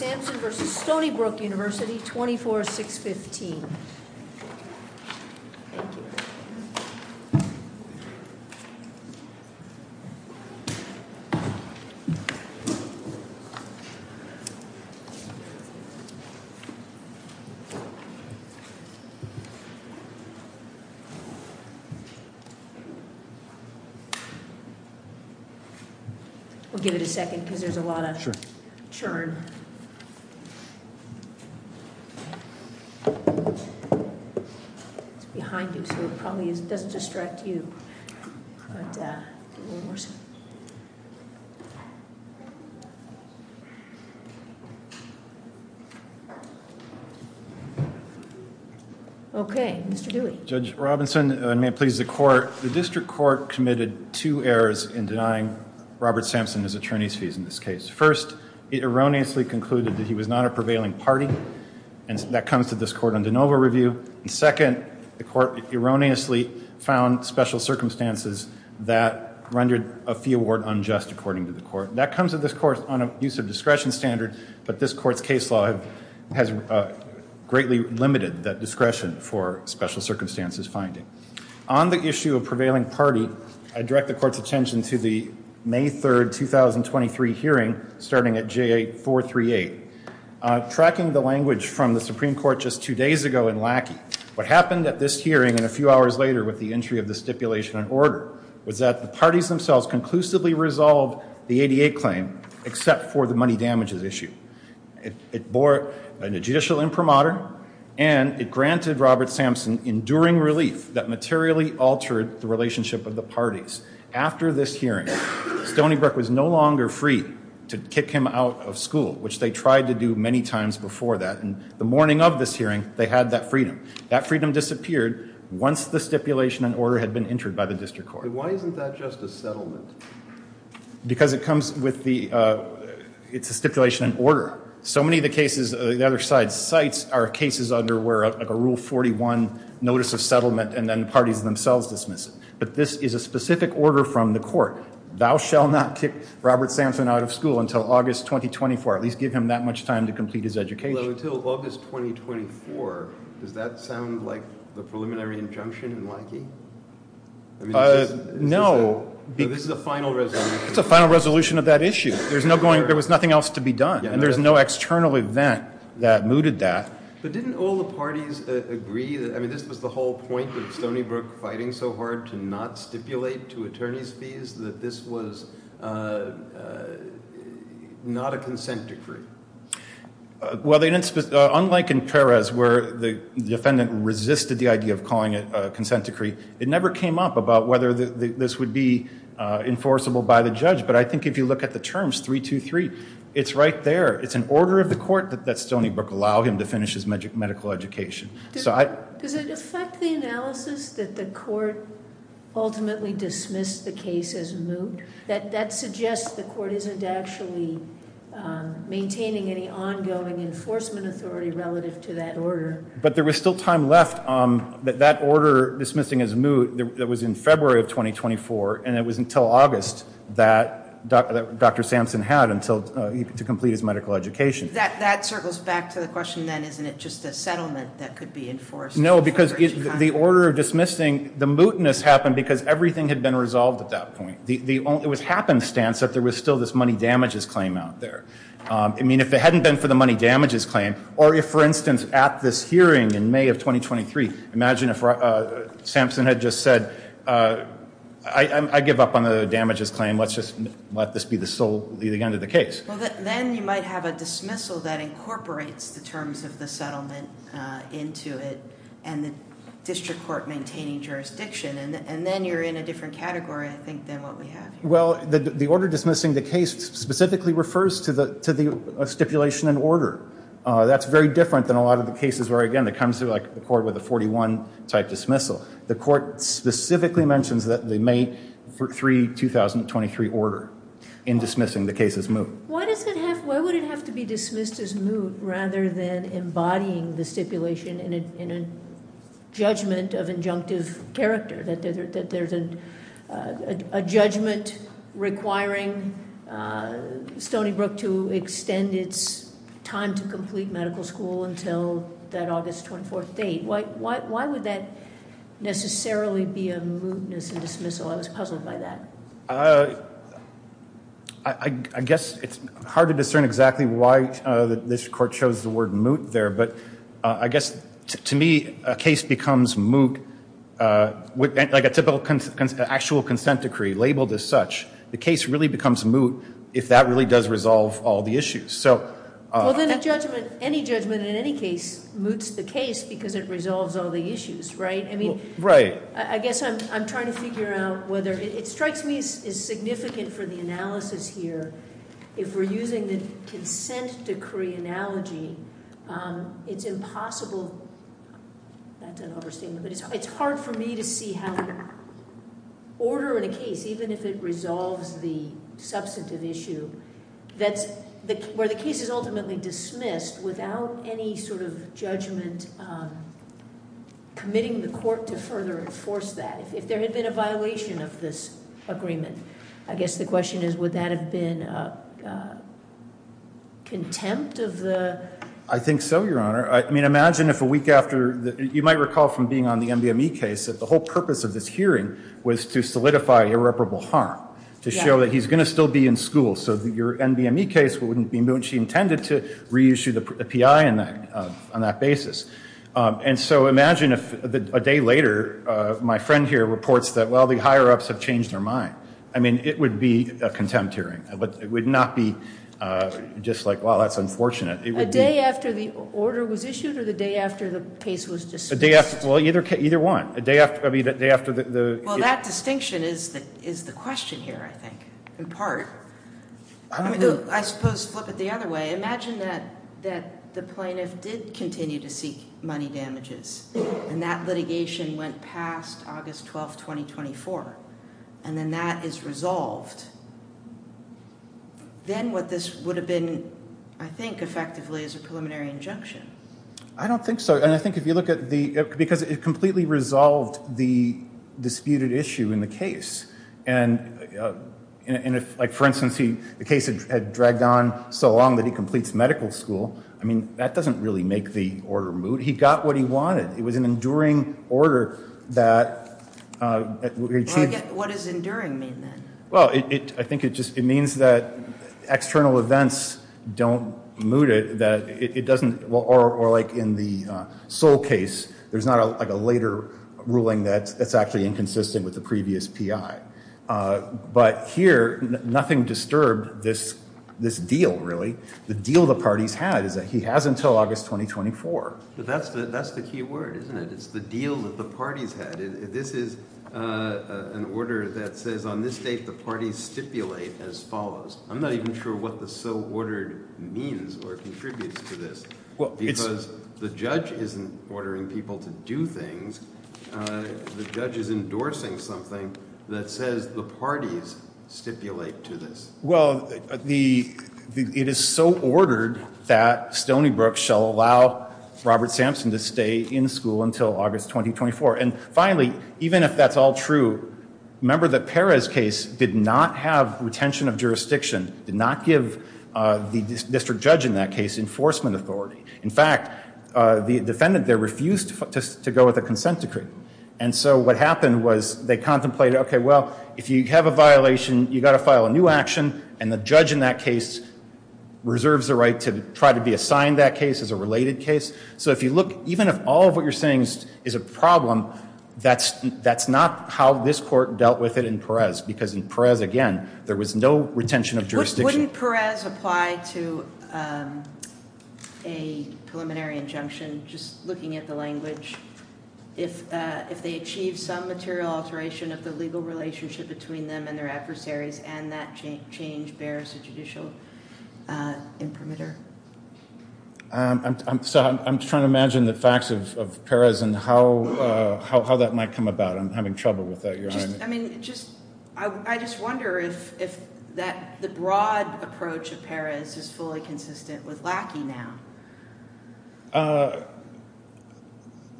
24-615. Thank you. We'll give it a second because there's a lot of churn. It's behind you so it probably doesn't distract you. Okay, Mr. Dewey. Judge Robinson, may it please the court. The district court committed two errors in denying Robert Sampson his attorney's fees in this case. First, it erroneously concluded that he was not a prevailing party and that comes to this court on de novo review. Second, the court erroneously found special circumstances that rendered a fee award unjust according to the court. That comes to this court on a use of discretion standard, but this court's case law has greatly limited that discretion for special circumstances finding. On the issue of prevailing party, I direct the court's attention to the May 3rd, 2023 hearing starting at J438. Tracking the language from the Supreme Court just two days ago in Lackey, what happened at this hearing and a few hours later with the entry of the stipulation and order was that the parties themselves conclusively resolved the 88 claim except for the money damages issue. It bore a judicial imprimatur and it granted Robert Sampson enduring relief that materially altered the relationship of the parties. After this hearing, Stony Brook was no longer free to kick him out of school, which they tried to do many times before that. And the morning of this hearing, they had that freedom. That freedom disappeared once the stipulation and order had been entered by the district court. Why isn't that just a settlement? Because it comes with the, it's a stipulation and order. So many of the cases, the other side's sites are cases under where a rule 41 notice of settlement and then the parties themselves dismiss it. But this is a specific order from the court. Thou shall not kick Robert Sampson out of school until August 2024. At least give him that much time to complete his education. Well, until August 2024, does that sound like the preliminary injunction in Lackey? No. This is a final resolution. It's a final resolution of that issue. There's no going, there was nothing else to be done. And there's no external event that mooted that. But didn't all the parties agree that, I mean, this was the whole point of Stony Brook fighting so hard to not stipulate to attorney's fees that this was not a consent decree? Well, they didn't, unlike in Perez where the defendant resisted the idea of calling it a consent decree, it never came up about whether this would be enforceable by the judge. But I think if you look at the terms, 323, it's right there. It's an order of the court that Stony Brook allow him to finish his medical education. Does it affect the analysis that the court ultimately dismissed the case as moot? That suggests the court isn't actually maintaining any ongoing enforcement authority relative to that order. But there was still time left that that order dismissing as moot, that was in February of 2024, and it was until August that Dr. Sampson had to complete his medical education. That circles back to the question then, isn't it just a settlement that could be enforced? No, because the order of dismissing, the mootness happened because everything had been resolved at that point. It was happenstance that there was still this money damages claim out there. I mean, if it hadn't been for the money damages claim, or if, for instance, at this hearing in May of 2023, imagine if Sampson had just said, I give up on the damages claim, let's just let this be the sole leading end of the case. Well, then you might have a dismissal that incorporates the terms of the settlement into it, and the district court maintaining jurisdiction. And then you're in a different category, I think, than what we have here. Well, the order dismissing the case specifically refers to the stipulation in order. That's very different than a lot of the cases where, again, it comes to the court with a 41-type dismissal. The court specifically mentions the May 3, 2023 order in dismissing the case as moot. Why would it have to be dismissed as moot rather than embodying the stipulation in a judgment of injunctive character? That there's a judgment requiring Stony Brook to extend its time to complete medical school until that August 24th date. Why would that necessarily be a mootness in dismissal? I was puzzled by that. I guess it's hard to discern exactly why this court chose the word moot there. But I guess, to me, a case becomes moot, like an actual consent decree labeled as such. The case really becomes moot if that really does resolve all the issues. Well, then any judgment in any case moots the case because it resolves all the issues, right? Right. I guess I'm trying to figure out whether it strikes me as significant for the analysis here. If we're using the consent decree analogy, it's impossible. That's an overstatement, but it's hard for me to see how order in a case, even if it resolves the substantive issue, where the case is ultimately dismissed without any sort of judgment committing the court to further enforce that. If there had been a violation of this agreement, I guess the question is, would that have been contempt of the- I think so, Your Honor. I mean, imagine if a week after, you might recall from being on the MBME case, that the whole purpose of this hearing was to solidify irreparable harm, to show that he's going to still be in school. So your MBME case wouldn't be moot. She intended to reissue the PI on that basis. And so imagine if a day later, my friend here reports that, well, the higher-ups have changed their mind. I mean, it would be a contempt hearing. It would not be just like, well, that's unfortunate. A day after the order was issued or the day after the case was dismissed? Well, either one. A day after the- Well, that distinction is the question here, I think, in part. I suppose flip it the other way. Imagine that the plaintiff did continue to seek money damages, and that litigation went past August 12, 2024, and then that is resolved. Then what this would have been, I think, effectively is a preliminary injunction. I don't think so. And I think if you look at the-because it completely resolved the disputed issue in the case. And if, like, for instance, the case had dragged on so long that he completes medical school, I mean, that doesn't really make the order moot. He got what he wanted. It was an enduring order that- What does enduring mean, then? Well, I think it just-it means that external events don't moot it. It doesn't-or like in the Sol case, there's not like a later ruling that's actually inconsistent with the previous PI. But here, nothing disturbed this deal, really. The deal the parties had is that he has until August 2024. But that's the key word, isn't it? It's the deal that the parties had. This is an order that says on this date the parties stipulate as follows. I'm not even sure what the so-ordered means or contributes to this. Because the judge isn't ordering people to do things. The judge is endorsing something that says the parties stipulate to this. Well, the-it is so ordered that Stony Brook shall allow Robert Sampson to stay in school until August 2024. And finally, even if that's all true, remember that Perez's case did not have retention of jurisdiction, did not give the district judge in that case enforcement authority. In fact, the defendant there refused to go with a consent decree. And so what happened was they contemplated, okay, well, if you have a violation, you've got to file a new action. And the judge in that case reserves the right to try to be assigned that case as a related case. So if you look, even if all of what you're saying is a problem, that's not how this court dealt with it in Perez. Because in Perez, again, there was no retention of jurisdiction. Wouldn't Perez apply to a preliminary injunction, just looking at the language, if they achieve some material alteration of the legal relationship between them and their adversaries and that change bears a judicial imprimatur? So I'm trying to imagine the facts of Perez and how that might come about. I'm having trouble with that. I mean, I just wonder if the broad approach of Perez is fully consistent with Lackey now.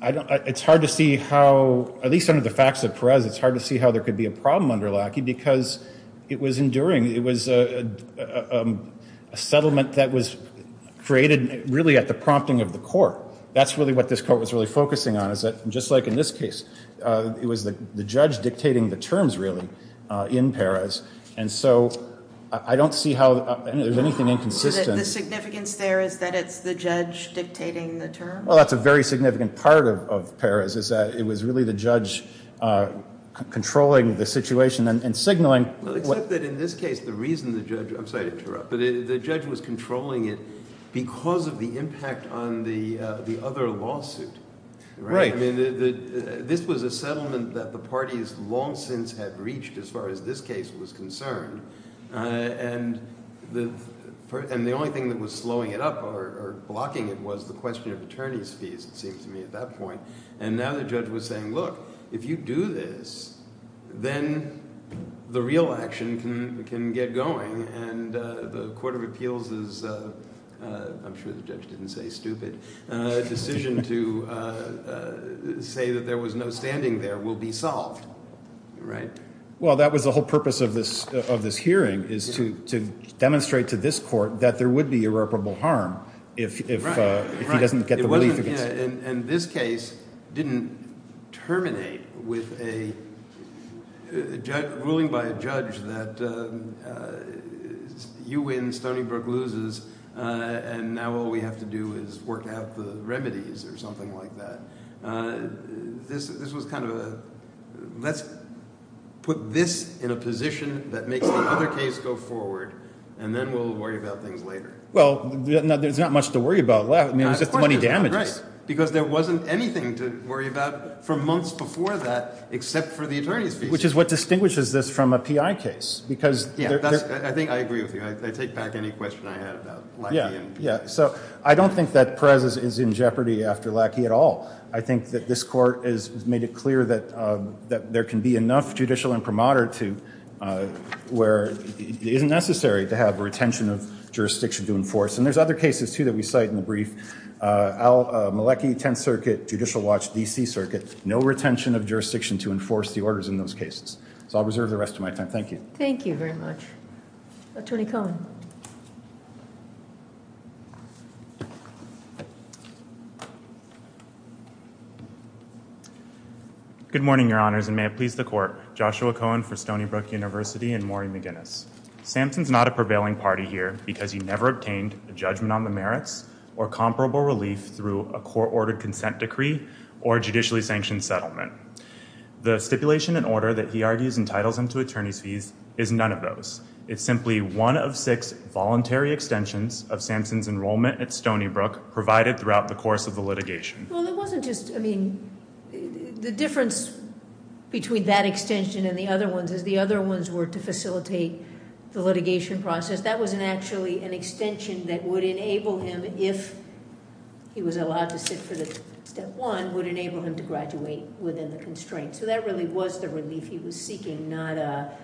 It's hard to see how, at least under the facts of Perez, it's hard to see how there could be a problem under Lackey because it was enduring. It was a settlement that was created really at the prompting of the court. That's really what this court was really focusing on is that, just like in this case, it was the judge dictating the terms, really, in Perez. And so I don't see how there's anything inconsistent. The significance there is that it's the judge dictating the terms? Well, that's a very significant part of Perez is that it was really the judge controlling the situation and signaling. Except that in this case, the reason the judge – I'm sorry to interrupt – but the judge was controlling it because of the impact on the other lawsuit. Right. I mean, this was a settlement that the parties long since had reached as far as this case was concerned. And the only thing that was slowing it up or blocking it was the question of attorney's fees, it seems to me, at that point. And now the judge was saying, look, if you do this, then the real action can get going. And the Court of Appeals' – I'm sure the judge didn't say stupid – decision to say that there was no standing there will be solved. Right? Well, that was the whole purpose of this hearing is to demonstrate to this court that there would be irreparable harm if he doesn't get the relief. And this case didn't terminate with a ruling by a judge that you win, Stony Brook loses, and now all we have to do is work out the remedies or something like that. This was kind of a let's put this in a position that makes the other case go forward, and then we'll worry about things later. Well, there's not much to worry about left. I mean, it was just money damages. Right. Because there wasn't anything to worry about for months before that except for the attorney's fees. Which is what distinguishes this from a P.I. case. Yeah. I think I agree with you. I take back any question I had about Lackey. Yeah. So I don't think that Perez is in jeopardy after Lackey at all. I think that this Court has made it clear that there can be enough judicial imprimatur to – where it isn't necessary to have a retention of jurisdiction to enforce. And there's other cases, too, that we cite in the brief. Malecki, Tenth Circuit, Judicial Watch, D.C. Circuit. No retention of jurisdiction to enforce the orders in those cases. So I'll reserve the rest of my time. Thank you. Thank you very much. Attorney Cohen. Good morning, Your Honors, and may it please the Court. Joshua Cohen for Stony Brook University and Maury McGinnis. Samson's not a prevailing party here because he never obtained a judgment on the merits or comparable relief through a court-ordered consent decree or a judicially sanctioned settlement. The stipulation and order that he argues entitles him to attorney's fees is none of those. It's simply one of six voluntary extensions of Samson's enrollment at Stony Brook provided throughout the course of the litigation. Well, it wasn't just – I mean, the difference between that extension and the other ones is the other ones were to facilitate the litigation process. That was actually an extension that would enable him, if he was allowed to sit for the Step 1, would enable him to graduate within the constraints. So that really was the relief he was seeking, not a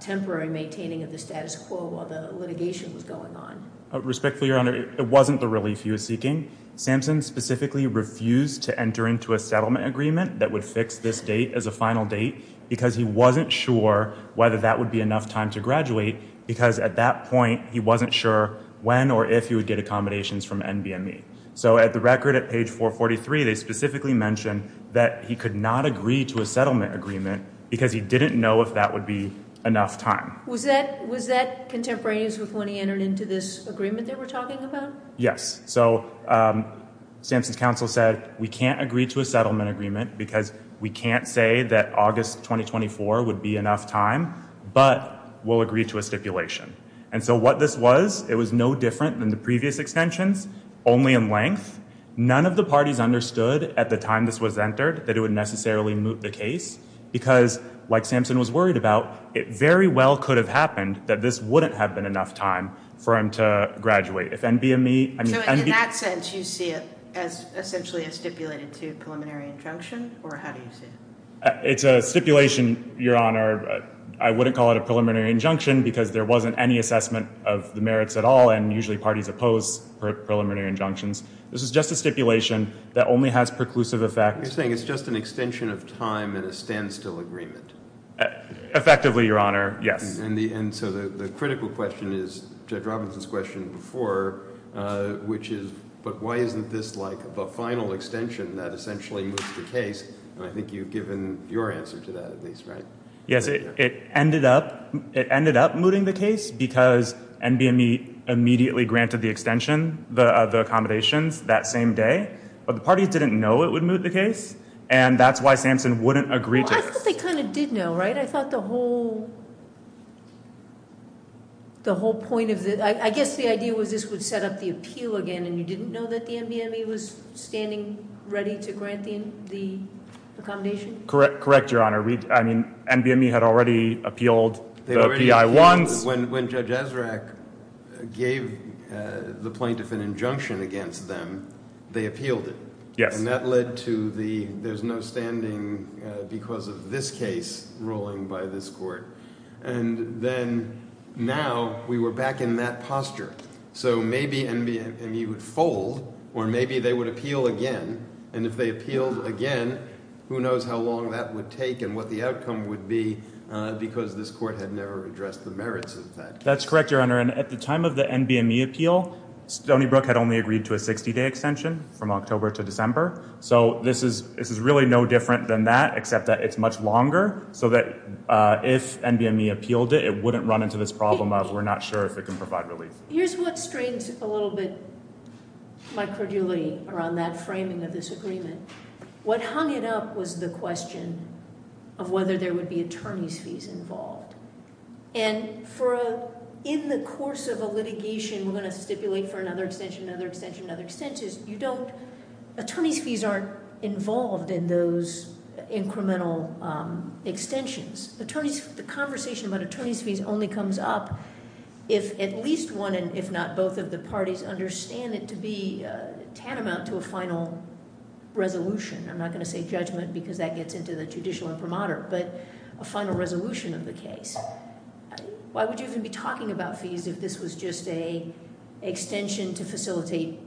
temporary maintaining of the status quo while the litigation was going on. Respectfully, Your Honor, it wasn't the relief he was seeking. Samson specifically refused to enter into a settlement agreement that would fix this date as a final date because he wasn't sure whether that would be enough time to graduate because at that point he wasn't sure when or if he would get accommodations from NBME. So at the record at page 443, they specifically mention that he could not agree to a settlement agreement because he didn't know if that would be enough time. Was that contemporaneous with when he entered into this agreement that we're talking about? Yes. So Samson's counsel said, we can't agree to a settlement agreement because we can't say that August 2024 would be enough time, but we'll agree to a stipulation. And so what this was, it was no different than the previous extensions, only in length. None of the parties understood at the time this was entered that it would necessarily moot the case because, like Samson was worried about, it very well could have happened that this wouldn't have been enough time for him to graduate. So in that sense, you see it essentially as stipulated to a preliminary injunction, or how do you see it? It's a stipulation, Your Honor. I wouldn't call it a preliminary injunction because there wasn't any assessment of the merits at all and usually parties oppose preliminary injunctions. This is just a stipulation that only has preclusive effect. You're saying it's just an extension of time in a standstill agreement? Effectively, Your Honor, yes. And so the critical question is Judge Robinson's question before, which is, but why isn't this like the final extension that essentially moots the case? And I think you've given your answer to that at least, right? Yes, it ended up mooting the case because NBME immediately granted the extension, the accommodations, that same day. But the parties didn't know it would moot the case, and that's why Samson wouldn't agree to it. I thought they kind of did know, right? I thought the whole point of it, I guess the idea was this would set up the appeal again, and you didn't know that the NBME was standing ready to grant the accommodation? Correct, Your Honor. I mean, NBME had already appealed the PI-1s. When Judge Esrak gave the plaintiff an injunction against them, they appealed it. Yes. And that led to the there's no standing because of this case ruling by this court. And then now we were back in that posture. So maybe NBME would fold, or maybe they would appeal again. And if they appealed again, who knows how long that would take and what the outcome would be because this court had never addressed the merits of that. That's correct, Your Honor. And at the time of the NBME appeal, Stony Brook had only agreed to a 60-day extension from October to December. So this is really no different than that except that it's much longer so that if NBME appealed it, it wouldn't run into this problem of we're not sure if it can provide relief. Here's what strains a little bit my credulity around that framing of this agreement. What hung it up was the question of whether there would be attorney's fees involved. And in the course of a litigation, we're going to stipulate for another extension, another extension, another extension. You don't, attorney's fees aren't involved in those incremental extensions. The conversation about attorney's fees only comes up if at least one and if not both of the parties understand it to be tantamount to a final resolution. I'm not going to say judgment because that gets into the judicial imprimatur, but a final resolution of the case. Why would you even be talking about fees if this was just an extension to facilitate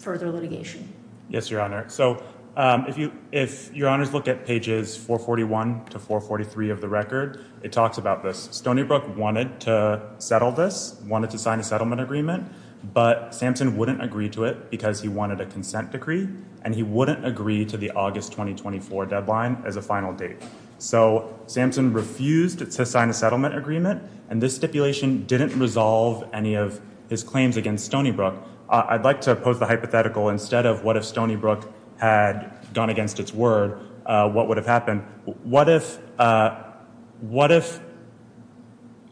further litigation? Yes, Your Honor. So if Your Honors look at pages 441 to 443 of the record, it talks about this. Stony Brook wanted to settle this, wanted to sign a settlement agreement, but Samson wouldn't agree to it because he wanted a consent decree and he wouldn't agree to the August 2024 deadline as a final date. So Samson refused to sign a settlement agreement. And this stipulation didn't resolve any of his claims against Stony Brook. I'd like to pose the hypothetical instead of what if Stony Brook had gone against its word, what would have happened? What if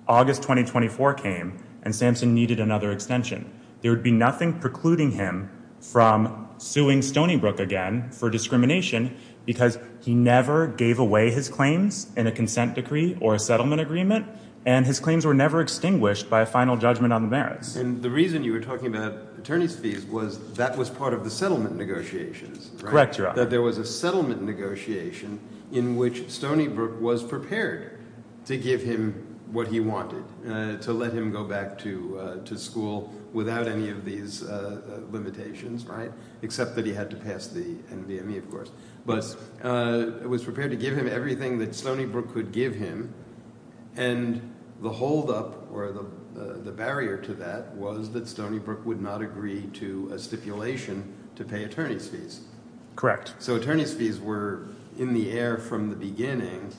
August 2024 came and Samson needed another extension? There would be nothing precluding him from suing Stony Brook again for discrimination because he never gave away his claims in a consent decree or a settlement agreement and his claims were never extinguished by a final judgment on the merits. And the reason you were talking about attorney's fees was that was part of the settlement negotiations. Correct, Your Honor. That there was a settlement negotiation in which Stony Brook was prepared to give him what he wanted, to let him go back to school without any of these limitations, right? Except that he had to pass the NVME, of course. But was prepared to give him everything that Stony Brook could give him. And the holdup or the barrier to that was that Stony Brook would not agree to a stipulation to pay attorney's fees. Correct. So attorney's fees were in the air from the beginning,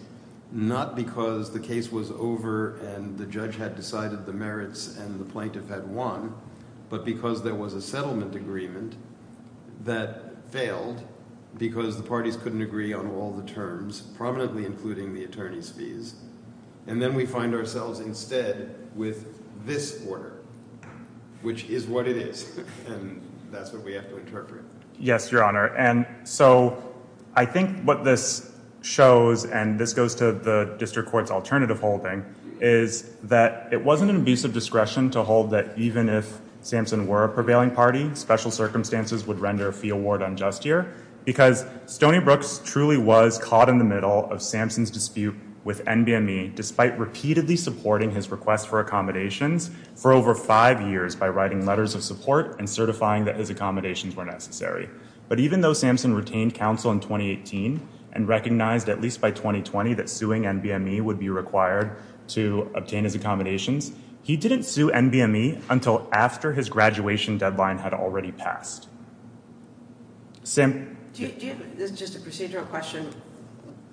not because the case was over and the judge had decided the merits and the plaintiff had won, but because there was a settlement agreement that failed because the parties couldn't agree on all the terms, prominently including the attorney's fees. And then we find ourselves instead with this order, which is what it is. And that's what we have to interpret. Yes, Your Honor. And so I think what this shows, and this goes to the district court's alternative holding, is that it wasn't an abusive discretion to hold that even if Samson were a prevailing party, special circumstances would render a fee award unjust here. Because Stony Brook truly was caught in the middle of Samson's dispute with NVME, despite repeatedly supporting his request for accommodations for over five years by writing letters of support and certifying that his accommodations were necessary. But even though Samson retained counsel in 2018 and recognized at least by 2020 that suing NVME would be required to obtain his accommodations, he didn't sue NVME until after his graduation deadline had already passed. Sam? Just a procedural question.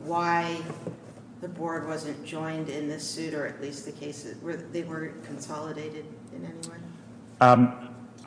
Why the Board wasn't joined in this suit, or at least the cases, they weren't consolidated in any way?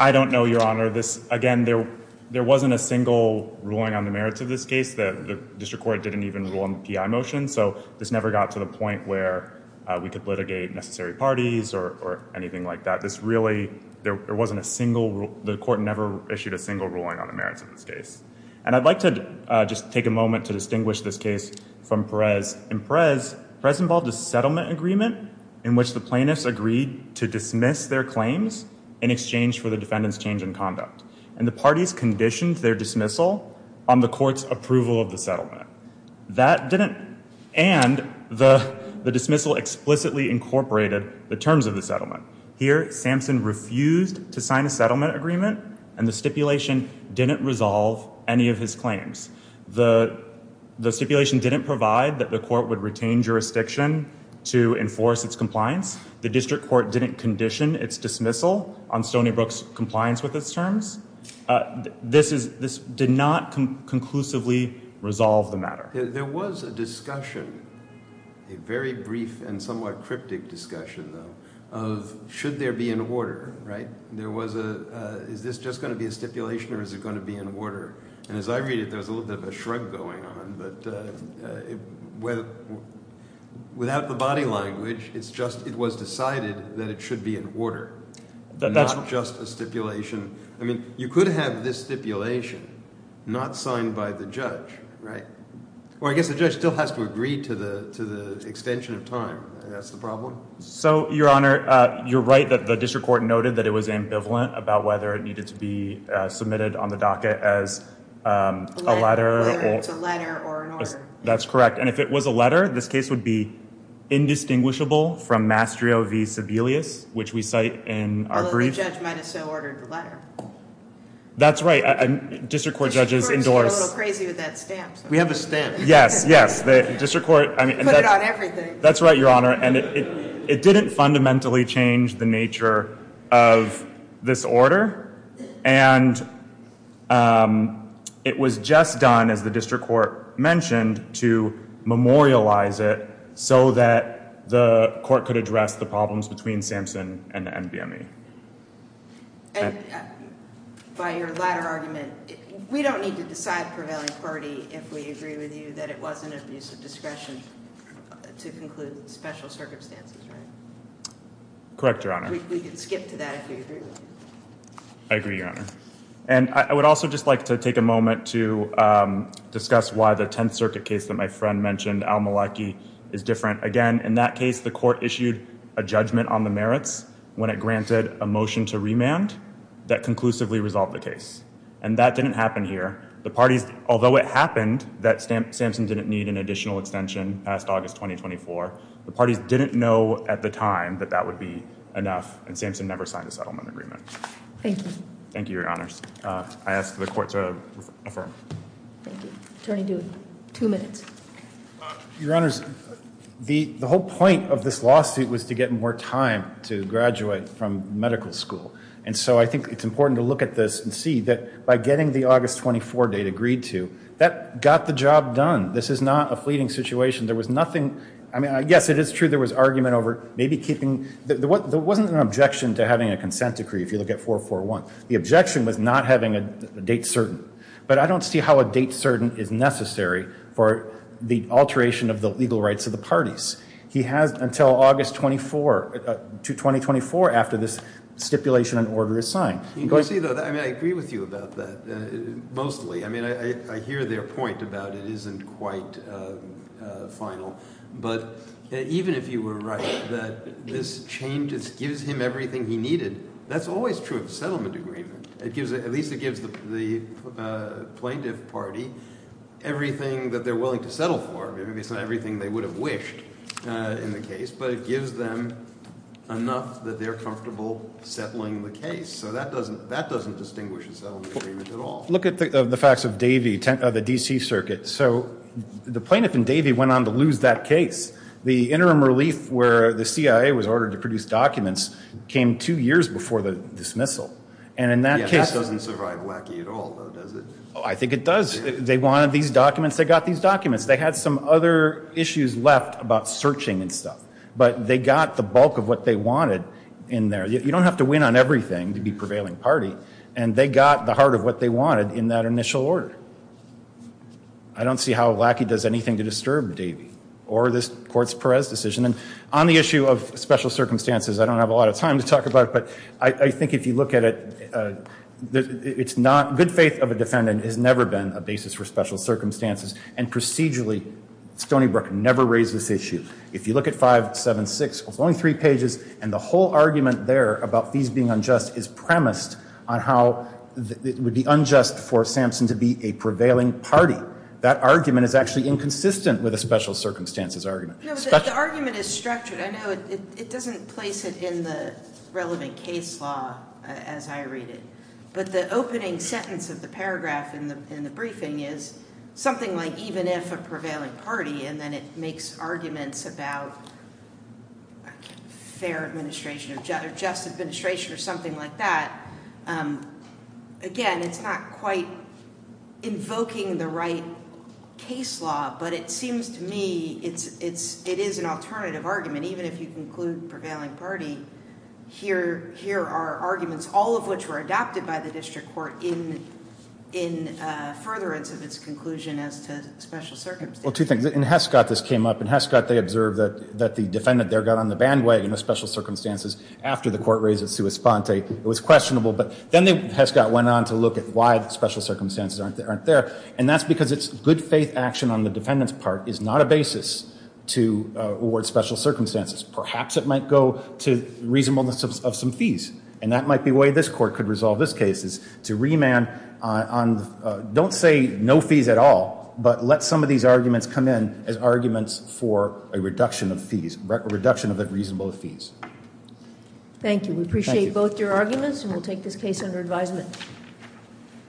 I don't know, Your Honor. Again, there wasn't a single ruling on the merits of this case. The district court didn't even rule on the PI motion. So this never got to the point where we could litigate necessary parties or anything like that. This really, there wasn't a single, the court never issued a single ruling on the merits of this case. And I'd like to just take a moment to distinguish this case from Perez. In Perez, Perez involved a settlement agreement in which the plaintiffs agreed to dismiss their claims in exchange for the defendant's change in conduct. And the parties conditioned their dismissal on the court's approval of the settlement. That didn't, and the dismissal explicitly incorporated the terms of the settlement. Here, Samson refused to sign a settlement agreement, and the stipulation didn't resolve any of his claims. The stipulation didn't provide that the court would retain jurisdiction to enforce its compliance. The district court didn't condition its dismissal on Stony Brook's compliance with its terms. This did not conclusively resolve the matter. There was a discussion, a very brief and somewhat cryptic discussion, though, of should there be an order, right? There was a, is this just going to be a stipulation or is it going to be an order? And as I read it, there was a little bit of a shrug going on, but without the body language, it's just it was decided that it should be an order, not just a stipulation. I mean, you could have this stipulation not signed by the judge, right? Well, I guess the judge still has to agree to the extension of time. That's the problem. So, Your Honor, you're right that the district court noted that it was ambivalent about whether it needed to be submitted on the docket as a letter. Whether it's a letter or an order. That's correct. And if it was a letter, this case would be indistinguishable from Mastrio v. Sebelius, which we cite in our brief. Although the judge might have still ordered the letter. That's right. District court judges endorse. The district court is a little crazy with that stamp. We have the stamp. Yes, yes. The district court. Put it on everything. That's right, Your Honor. And it didn't fundamentally change the nature of this order. And it was just done, as the district court mentioned, to memorialize it so that the court could address the problems between Sampson and the NBME. And by your latter argument, we don't need to decide prevailing party if we agree with you that it wasn't abuse of discretion to conclude special circumstances, right? Correct, Your Honor. We can skip to that if you agree with me. I agree, Your Honor. And I would also just like to take a moment to discuss why the Tenth Circuit case that my friend mentioned, Al-Maliki, is different. Again, in that case, the court issued a judgment on the merits when it granted a motion to remand that conclusively resolved the case. And that didn't happen here. Although it happened that Sampson didn't need an additional extension past August 2024, the parties didn't know at the time that that would be enough. And Sampson never signed a settlement agreement. Thank you. Thank you, Your Honors. I ask the court to affirm. Thank you. Attorney DeWitt, two minutes. Your Honors, the whole point of this lawsuit was to get more time to graduate from medical school. And so I think it's important to look at this and see that by getting the August 24 date agreed to, that got the job done. This is not a fleeting situation. There was nothing, I mean, yes, it is true there was argument over maybe keeping, there wasn't an objection to having a consent decree if you look at 441. The objection was not having a date certain. But I don't see how a date certain is necessary for the alteration of the legal rights of the parties. He has until August 24, 2024, after this stipulation and order is signed. You can see though, I mean, I agree with you about that, mostly. I mean, I hear their point about it isn't quite final. But even if you were right that this changes, gives him everything he needed, that's always true of a settlement agreement. At least it gives the plaintiff party everything that they're willing to settle for. I mean, it's not everything they would have wished in the case. But it gives them enough that they're comfortable settling the case. So that doesn't distinguish a settlement agreement at all. Look at the facts of Davey, the D.C. Circuit. So the plaintiff in Davey went on to lose that case. The interim relief where the CIA was ordered to produce documents came two years before the dismissal. And in that case doesn't survive Lackey at all, does it? I think it does. They wanted these documents. They got these documents. They had some other issues left about searching and stuff. But they got the bulk of what they wanted in there. You don't have to win on everything to be prevailing party. And they got the heart of what they wanted in that initial order. I don't see how Lackey does anything to disturb Davey or this Courts Perez decision. And on the issue of special circumstances, I don't have a lot of time to talk about it. But I think if you look at it, it's not good faith of a defendant has never been a basis for special circumstances. And procedurally, Stony Brook never raised this issue. If you look at 576, it's only three pages. And the whole argument there about these being unjust is premised on how it would be unjust for Sampson to be a prevailing party. That argument is actually inconsistent with a special circumstances argument. The argument is structured. I know it doesn't place it in the relevant case law as I read it. But the opening sentence of the paragraph in the briefing is something like even if a prevailing party, and then it makes arguments about fair administration or just administration or something like that. Again, it's not quite invoking the right case law. But it seems to me it is an alternative argument. Even if you conclude prevailing party, here are arguments, all of which were adopted by the district court in furtherance of its conclusion as to special circumstances. Well, two things. In Hescott, this came up. In Hescott, they observed that the defendant there got on the bandwagon of special circumstances after the court raised it sua sponte. It was questionable. But then Hescott went on to look at why special circumstances aren't there. And that's because it's good faith action on the defendant's part is not a basis to award special circumstances. Perhaps it might go to reasonableness of some fees. And that might be a way this court could resolve this case is to remand on, don't say no fees at all, but let some of these arguments come in as arguments for a reduction of fees, reduction of the reasonable fees. Thank you. We appreciate both your arguments and we'll take this case under advisement.